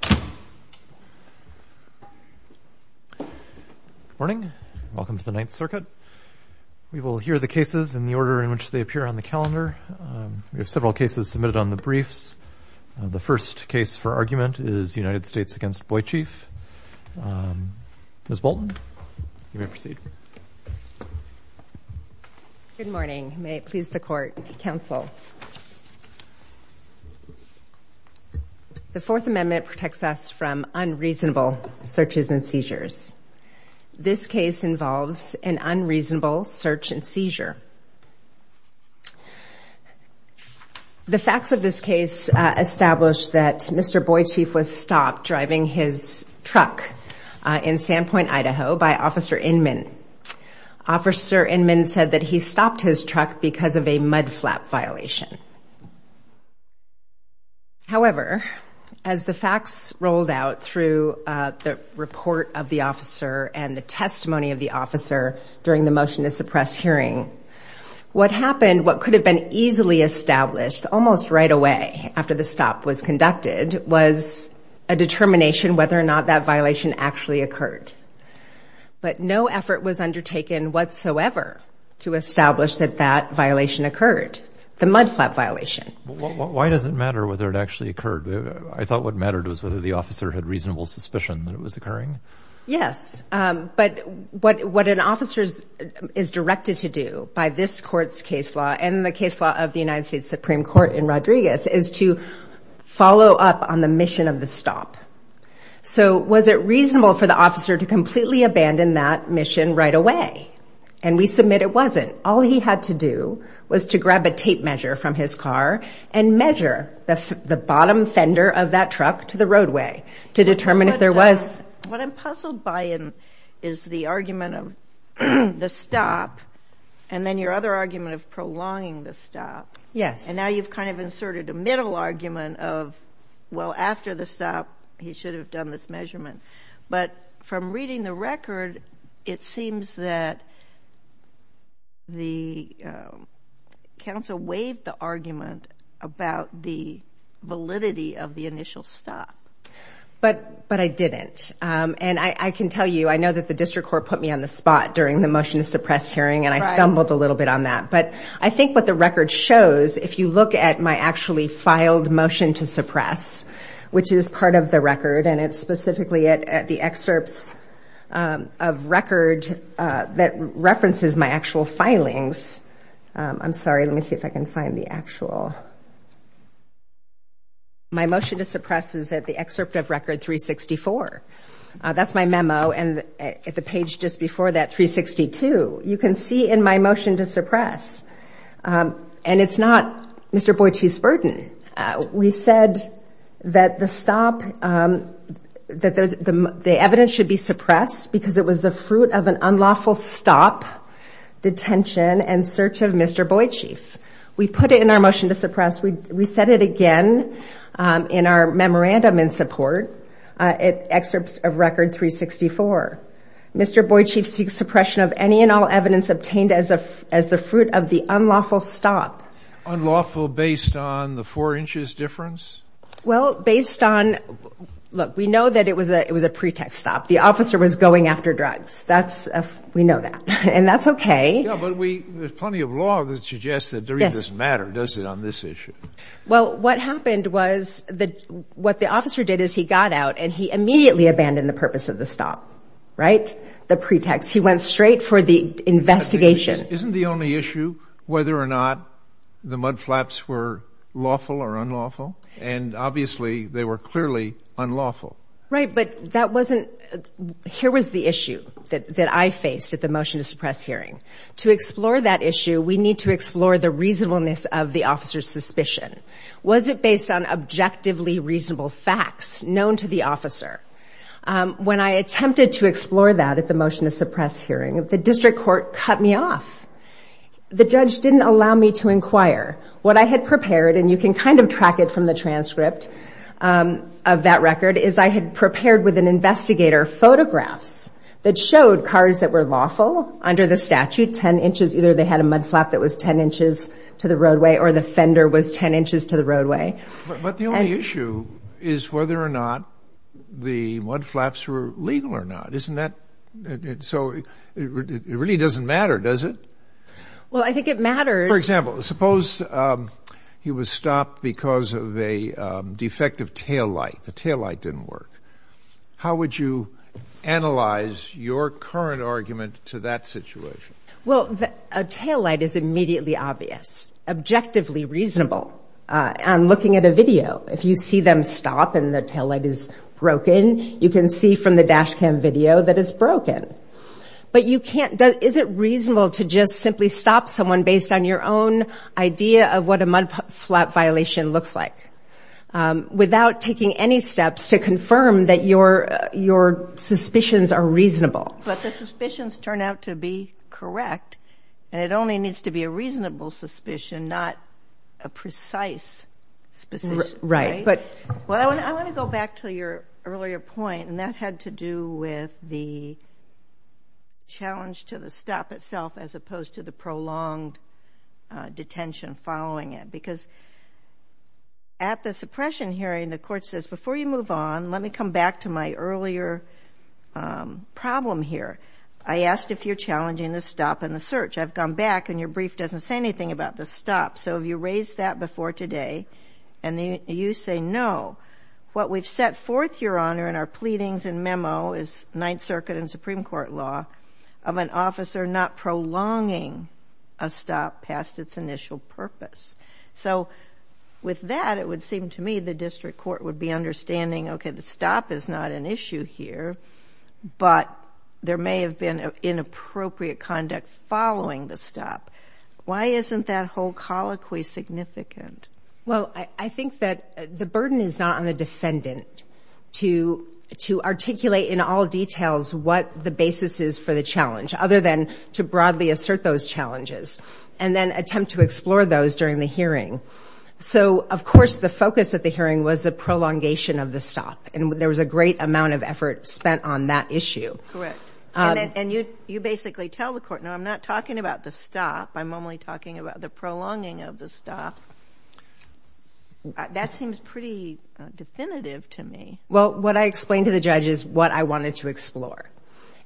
Good morning. Welcome to the Ninth Circuit. We will hear the cases in the order in which they appear on the calendar. We have several cases submitted on the briefs. The first case for argument is United States v. Boychief. Ms. Bolton, you may proceed. Ms. Bolton Good morning. May it please the Court, Counsel. The Fourth Amendment protects us from unreasonable searches and seizures. This case involves an unreasonable search and seizure. The facts of this case establish that Mr. Boychief was stopped driving his truck. Officer Inman said that he stopped his truck because of a mud flap violation. However, as the facts rolled out through the report of the officer and the testimony of the officer during the motion to suppress hearing, what happened, what could have been easily established almost right away after the stop was conducted, was a determination whether or not that violation actually occurred. But no effort was undertaken whatsoever to establish that that violation occurred, the mud flap violation. Mr. Chisholm Why does it matter whether it actually occurred? I thought what mattered was whether the officer had reasonable suspicion that it was occurring. Ms. Bolton Yes, but what an officer is directed to do by this Court's case law and the case law of the United States Supreme Court in Rodriguez is to follow up on the mission of the stop. So was it reasonable for the officer to completely abandon that mission right away? And we submit it wasn't. All he had to do was to grab a tape measure from his car and measure the bottom fender of that truck to the roadway to determine if there was... Ms. Boychief What I'm puzzled by is the argument of the stop and then your other argument of prolonging the stop. Ms. Bolton Yes. Ms. Boychief And now you've kind of inserted a middle argument of, well, after the stop, he should have done this measurement. But from reading the record, it seems that the counsel waived the argument about the validity of the initial stop. Ms. Bolton But I didn't. And I can tell you, I know that the District Court put me on the spot during the motion to suppress hearing and I stumbled a little bit on that. But I think what the record shows, if you look at my actually filed motion to suppress, which is part of the record, and it's specifically at the excerpts of record that references my actual filings. I'm sorry, let me see if I can find the actual. My motion to suppress is at the excerpt of record 364. That's my memo. And at the page just before that 362, you can see in my motion to suppress, and it's not Mr. Boychief's burden. We said that the stop, that the evidence should be suppressed because it was the fruit of an unlawful stop, detention, and search of Mr. Boychief. We put it in our motion to suppress. We said it again in our memorandum in support at excerpts of record 364. Mr. Boychief seeks suppression of any and all evidence obtained as the fruit of the unlawful stop. Unlawful based on the four inches difference? Well, based on, look, we know that it was a pretext stop. The officer was going after drugs. That's, we know that. And that's okay. Yeah, but we, there's plenty of law that suggests that there is this matter, does it on this issue? Well, what happened was, what the officer did is he got out and he immediately abandoned the purpose of the stop, right? The pretext. He went straight for the investigation. Isn't the only issue whether or not the mudflaps were lawful or unlawful? And obviously they were clearly unlawful. Right, but that wasn't, here was the issue that I faced at the motion to suppress hearing. To explore that issue, we need to explore the reasonableness of the officer's suspicion. Was it based on objectively reasonable facts known to the officer? When I attempted to explore that at the motion to suppress hearing, the district court cut me off. The judge didn't allow me to inquire. What I had prepared, and you can kind of track it from the transcript of that record, is I had prepared with an investigator photographs that showed cars that were lawful under the statute, 10 inches, either they had a mudflap that was 10 inches to the roadway or the fender was 10 inches to the roadway. But the only issue is whether or not the mudflaps were legal or not. Isn't that, so it really doesn't matter, does it? Well I think it matters. For example, suppose he was stopped because of a defective tail light. The tail light didn't work. How would you analyze your current argument to that situation? Well, a tail light is immediately obvious, objectively reasonable. I'm looking at a video. If you see them stop and the tail light is broken, you can see from the dash cam video that it's broken. But you can't, is it reasonable to just simply stop someone based on your own idea of what a mudflap violation looks like, without taking any steps to confirm that your suspicions are reasonable? But the suspicions turn out to be correct. And it only needs to be a reasonable suspicion, not a precise suspicion, right? Right, but I want to go back to your earlier point, and that had to do with the challenge to the stop itself as opposed to the prolonged detention following it. Because at the suppression hearing the court says, before you move on, let me come back to my earlier problem here. I asked if you're challenging the stop in the search. I've gone back and your brief doesn't say anything about the stop. So have you raised that before today? And you say no. What we've set forth, Your Honor, in our pleadings and memo is Ninth Circuit and Supreme Court law of an officer not prolonging a stop past its initial purpose. So with that it would seem to me the district court would be understanding, okay, the stop is not an issue here, but there may have been inappropriate conduct following the stop. Why isn't that whole colloquy significant? Well, I think that the burden is not on the defendant to articulate in all details what the basis is for the challenge, other than to broadly assert those challenges, and then of course the focus of the hearing was the prolongation of the stop. And there was a great amount of effort spent on that issue. Correct. And you basically tell the court, no, I'm not talking about the stop. I'm only talking about the prolonging of the stop. That seems pretty definitive to me. Well, what I explained to the judge is what I wanted to explore.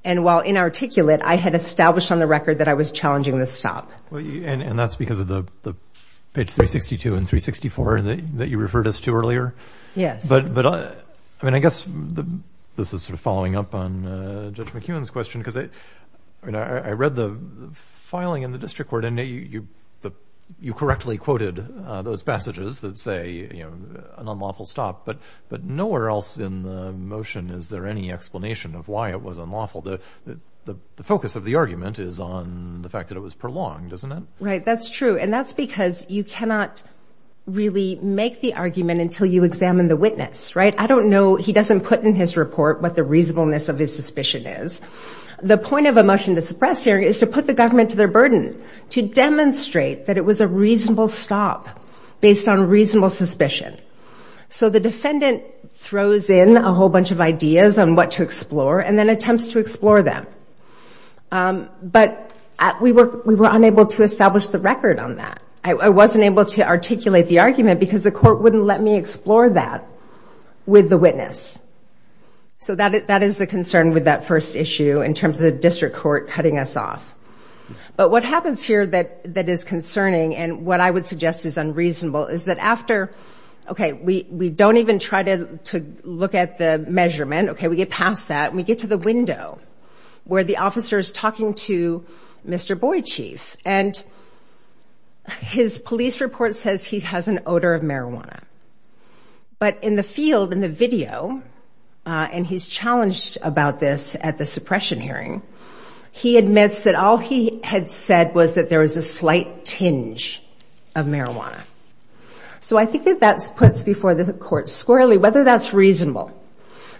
And while inarticulate, I had established on the record that I was challenging the stop. And that's because of the page 362 and 364 that you referred us to earlier. Yes. But I mean, I guess this is sort of following up on Judge McEwen's question, because I read the filing in the district court and you correctly quoted those passages that say an unlawful stop, but nowhere else in the motion is there any explanation of why it was unlawful. The focus of the argument is on the fact that it was prolonged, isn't it? Right. That's true. And that's because you cannot really make the argument until you examine the witness, right? I don't know. He doesn't put in his report what the reasonableness of his suspicion is. The point of a motion to suppress hearing is to put the government to their burden, to demonstrate that it was a reasonable stop based on reasonable suspicion. So the defendant throws in a whole bunch of ideas on what to explore and then attempts to explore them. But we were unable to establish the record on that. I wasn't able to articulate the argument because the court wouldn't let me explore that with the witness. So that is the concern with that first issue in terms of the district court cutting us off. But what happens here that is concerning and what I would suggest is unreasonable is that after, okay, we don't even try to look at the measurement, okay, we get past that and we get to the window where the officer is talking to Mr. Boyd Chief. And his police report says he has an odor of marijuana. But in the field, in the video, and he's challenged about this at the suppression hearing, he admits that all he had said was that there was a slight tinge of marijuana. So I think that that puts before the court squarely whether that's reasonable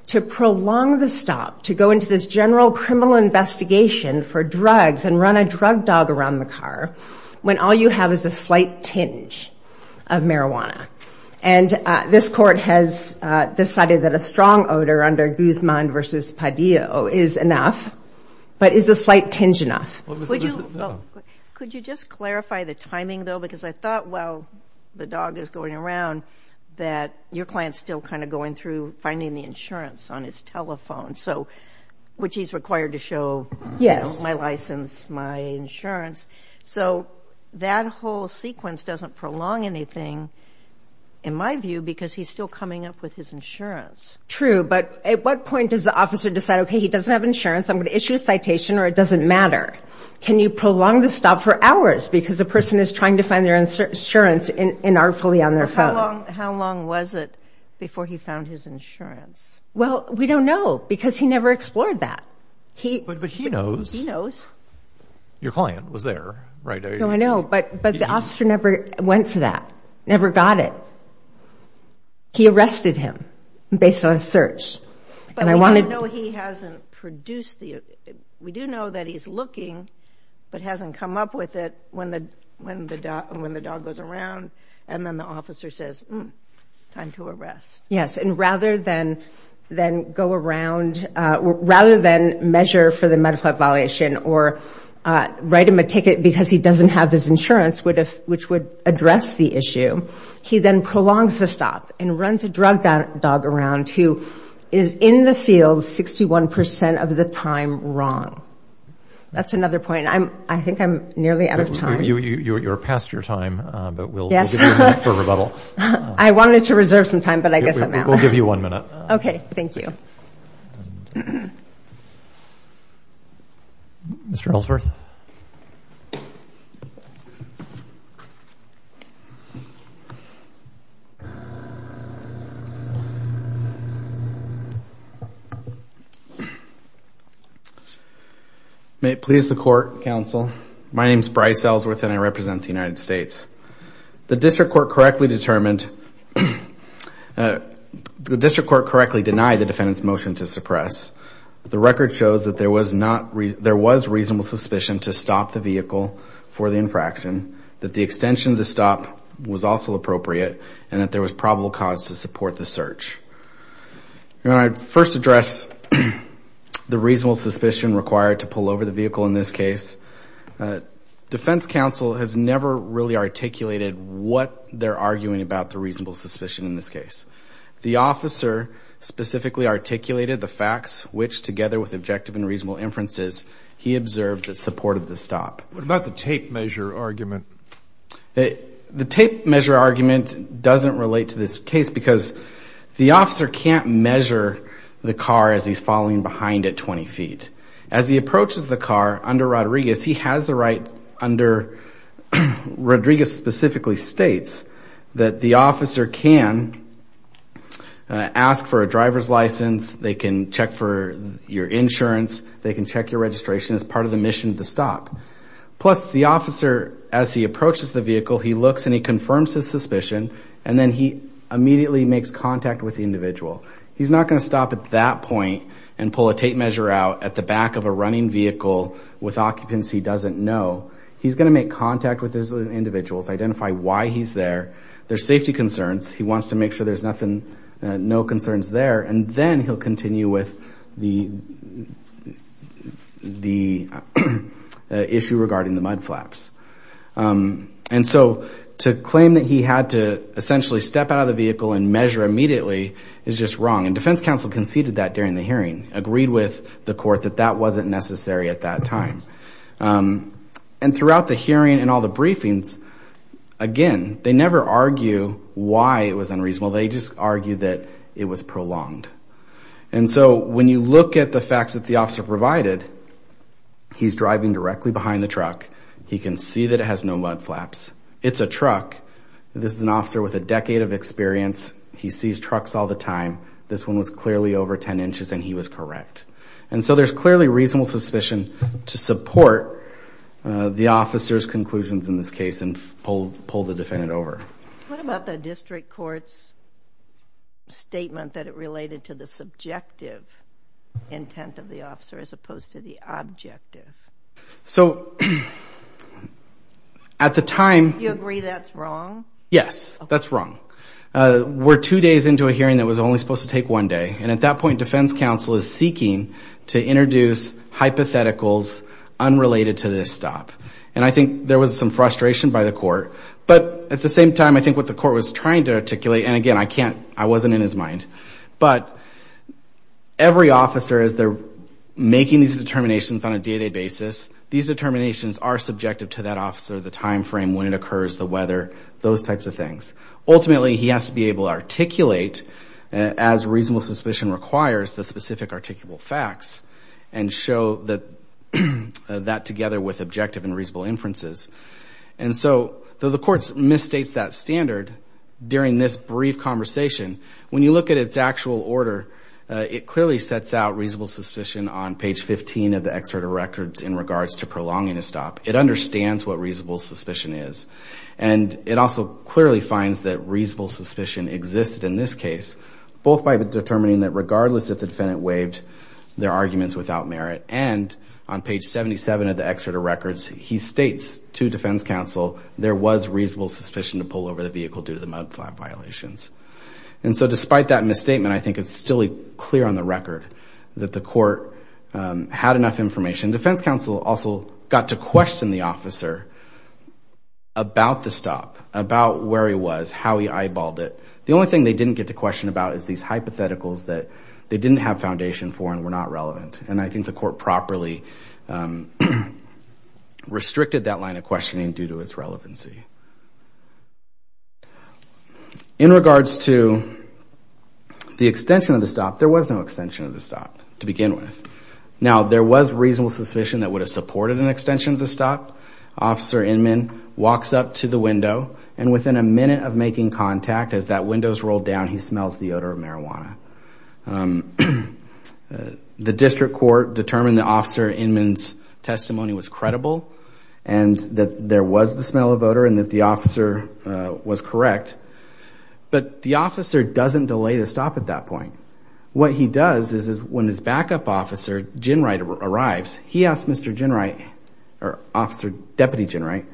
to prolong the stop, to go into this general criminal investigation for drugs and run a drug dog around the car when all you have is a slight tinge of marijuana. And this court has decided that a strong odor under Guzman v. Padillo is enough, but is a slight tinge enough. Could you just clarify the timing though because I thought while the dog is going around that your client's still kind of going through finding the insurance on his telephone, which he's required to show my license, my insurance. So that whole sequence doesn't prolong anything in my view because he's still coming up with his insurance. True, but at what point does the officer decide, okay, he doesn't have insurance, I'm going to issue a citation or it doesn't matter. Can you prolong the stop for hours because a person is trying to find their insurance inarticulately on their phone? How long was it before he found his insurance? Well, we don't know because he never explored that. But he knows. Your client was there, right? No, I know, but the officer never went for that, never got it. He arrested him based on a search. But we don't know he hasn't produced the... We do know that he's looking, but hasn't come up with it when the dog goes around and then the officer says, hmm, time to arrest. Yes, and rather than go around, rather than measure for the medical violation or write him a ticket because he doesn't have his insurance, which would address the issue, he then prolongs the stop and runs a drug dog around who is in the field 61% of the time wrong. That's another point. I think I'm nearly out of time. You're past your time, but we'll give you a minute for rebuttal. I wanted to reserve some time, but I guess I'm out. We'll give you one minute. Okay, thank you. Mr. Ellsworth. May it please the court, counsel. My name is Bryce Ellsworth and I represent the United States. The district court correctly denied the defendant's motion to suppress. The record shows that there was reasonable suspicion to stop the vehicle for the infraction, that the extension of the stop was also appropriate, and that there was probable cause to support the search. When I first address the reasonable suspicion required to pull over the vehicle in this case, defense counsel has never really articulated what they're arguing about the reasonable suspicion in this case. The officer specifically articulated the facts, which together with objective and reasonable inferences, he observed that supported the stop. What about the tape measure argument? The tape measure argument doesn't relate to this case because the officer can't measure the car as he's following behind at 20 feet. As he approaches the car under Rodriguez, he has the right under, Rodriguez specifically states, that the officer can ask for a driver's insurance, they can check your registration as part of the mission to stop. Plus, the officer, as he approaches the vehicle, he looks and he confirms his suspicion, and then he immediately makes contact with the individual. He's not going to stop at that point and pull a tape measure out at the back of a running vehicle with occupants he doesn't know. He's going to make contact with his individuals, identify why he's there, their safety concerns, he wants to make sure there's no concerns there, and then he'll continue with the issue regarding the mud flaps. To claim that he had to essentially step out of the vehicle and measure immediately is just wrong. Defense counsel conceded that during the hearing, agreed with the court that that wasn't necessary at that time. Throughout the hearing and all the briefings, again, they never argue why it was unreasonable, they just argue that it was prolonged. And so when you look at the facts that the officer provided, he's driving directly behind the truck, he can see that it has no mud flaps, it's a truck, this is an officer with a decade of experience, he sees trucks all the time, this one was clearly over 10 inches and he was correct. And so there's clearly reasonable suspicion to support the officer's conclusions in this case and pull the defendant over. What about the district court's statement that it related to the subjective intent of the officer as opposed to the objective? So at the time... You agree that's wrong? Yes, that's wrong. We're two days into a hearing that was only supposed to take one day, and at that point defense counsel is seeking to introduce hypotheticals unrelated to this stop. And I think there was some frustration by the court, but at the same time I think what the court was trying to articulate, and again I can't, I wasn't in his mind, but every officer as they're making these determinations on a day-to-day basis, these determinations are subjective to that officer, the time frame, when it occurs, the weather, those types of things. Ultimately he has to be able to articulate, as reasonable suspicion requires, the specific objective and reasonable inferences. And so, though the court misstates that standard during this brief conversation, when you look at its actual order, it clearly sets out reasonable suspicion on page 15 of the Excerpt of Records in regards to prolonging a stop. It understands what reasonable suspicion is. And it also clearly finds that reasonable suspicion existed in this case, both by determining that regardless if the defendant waived their arguments without records, he states to defense counsel there was reasonable suspicion to pull over the vehicle due to the mudflap violations. And so, despite that misstatement, I think it's still clear on the record that the court had enough information. Defense counsel also got to question the officer about the stop, about where he was, how he eyeballed it. The only thing they didn't get to question about is these hypotheticals that they didn't have restricted that line of questioning due to its relevancy. In regards to the extension of the stop, there was no extension of the stop to begin with. Now, there was reasonable suspicion that would have supported an extension of the stop. Officer Inman walks up to the window, and within a minute of making contact, as that window is rolled down, he smells the odor of marijuana. The district court determined that Officer Inman's testimony was credible, and that there was the smell of odor, and that the officer was correct. But the officer doesn't delay the stop at that point. What he does is when his backup officer, Ginwright, arrives, he asks Mr. Ginwright, or Officer Deputy Ginwright,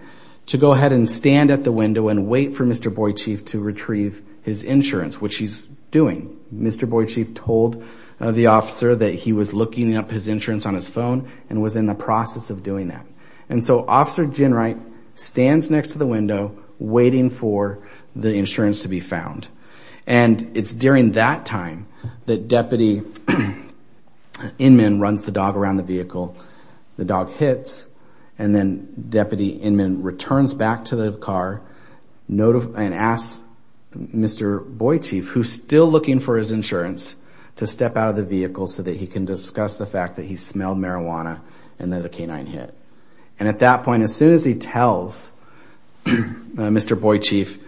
to go ahead and stand at the window and wait for Mr. Boydchieff to retrieve his insurance, which he's doing. Mr. Boydchieff told the officer that he was looking up his insurance on his phone, and was in the process of doing that. And so Officer Ginwright stands next to the window, waiting for the insurance to be found. And it's during that time that Deputy Inman runs the dog around the vehicle. The dog hits, and then Deputy Inman returns back to the car and asks Mr. Boydchieff, who's still looking for his insurance, to step out of the vehicle so that he can discuss the fact that he smelled marijuana, and that a canine hit. And at that point, as soon as he tells Mr. Boydchieff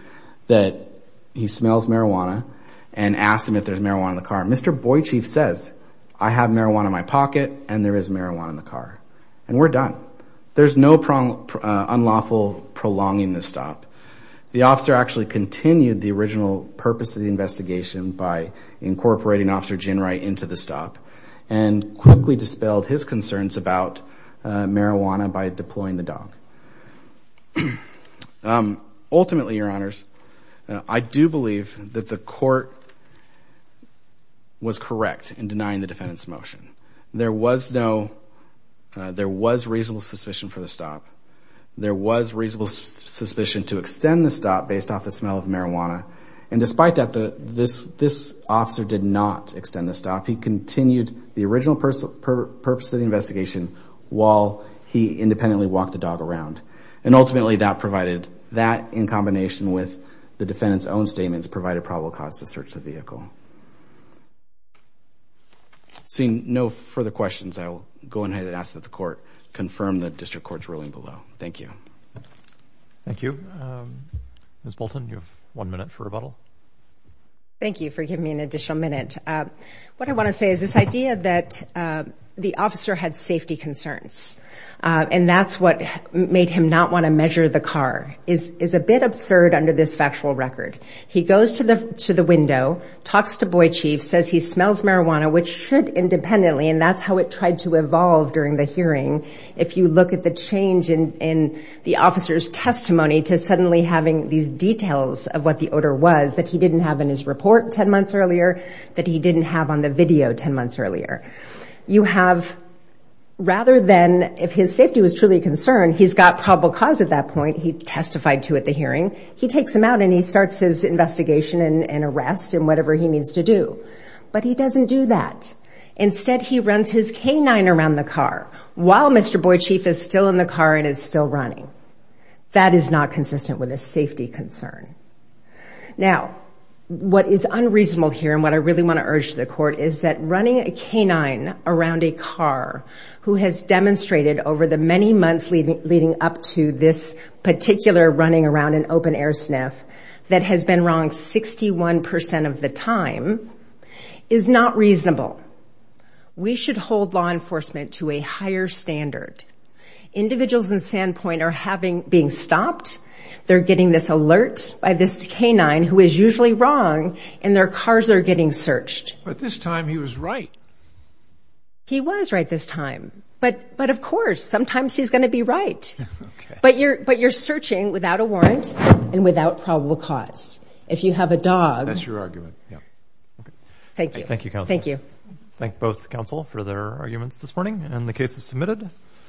that he smells marijuana, and asks him if there's marijuana in the car, Mr. Boydchieff says, I have marijuana in my pocket, and there is marijuana in the car. And we're done. There's no unlawful prolonging the stop. The officer actually continued the original purpose of the investigation by incorporating Officer Ginwright into the stop, and quickly dispelled his concerns about marijuana by deploying the dog. Ultimately, your honors, I do believe that the court was correct in denying the defendant's motion. There was reasonable suspicion for the stop. There was reasonable suspicion to extend the stop based off the smell of marijuana. And despite that, this officer did not extend the stop. He continued the original purpose of the investigation while he independently walked the dog around. And ultimately, that provided, that in combination with the defendant's own statements, provided probable cause to search the vehicle. Seeing no further questions, I will go ahead and ask that the court confirm the district court's ruling below. Thank you. Thank you. Ms. Bolton, you have one minute for rebuttal. Thank you for giving me an additional minute. What I want to say is this idea that the officer had safety concerns, and that's what made him not want to measure the car, is a bit absurd under this factual record. He goes to the window, talks to Boyd Chief, says he smells marijuana, which should independently, and that's how it tried to evolve during the hearing. If you look at the change in the officer's testimony to suddenly having these details of what the odor was that he didn't have in his report 10 months earlier, that he didn't have on the video 10 months earlier, you have, rather than if his safety was truly a concern, he's got probable cause at that point, he testified to at the hearing, he takes him out and he starts his investigation and arrest and whatever he needs to do. But he doesn't do that. Instead, he runs his canine around the car while Mr. Boyd Chief is still in the car and is still running. That is not consistent with a safety concern. Now, what is unreasonable here and what I really want to urge the court is that running a canine around a car who has demonstrated over the many months leading up to this particular running around an open air sniff that has been wrong 61% of the time is not reasonable. We should hold law enforcement to a higher standard. Individuals standpoint are having being stopped. They're getting this alert by this canine who is usually wrong and their cars are getting searched. But this time he was right. He was right this time, but but of course, sometimes he's gonna be right. But you're but you're searching without a warrant and without probable cause. If you have a dog, that's your argument. Thank you. Thank you. Thank both counsel for their arguments this morning and the case is submitted.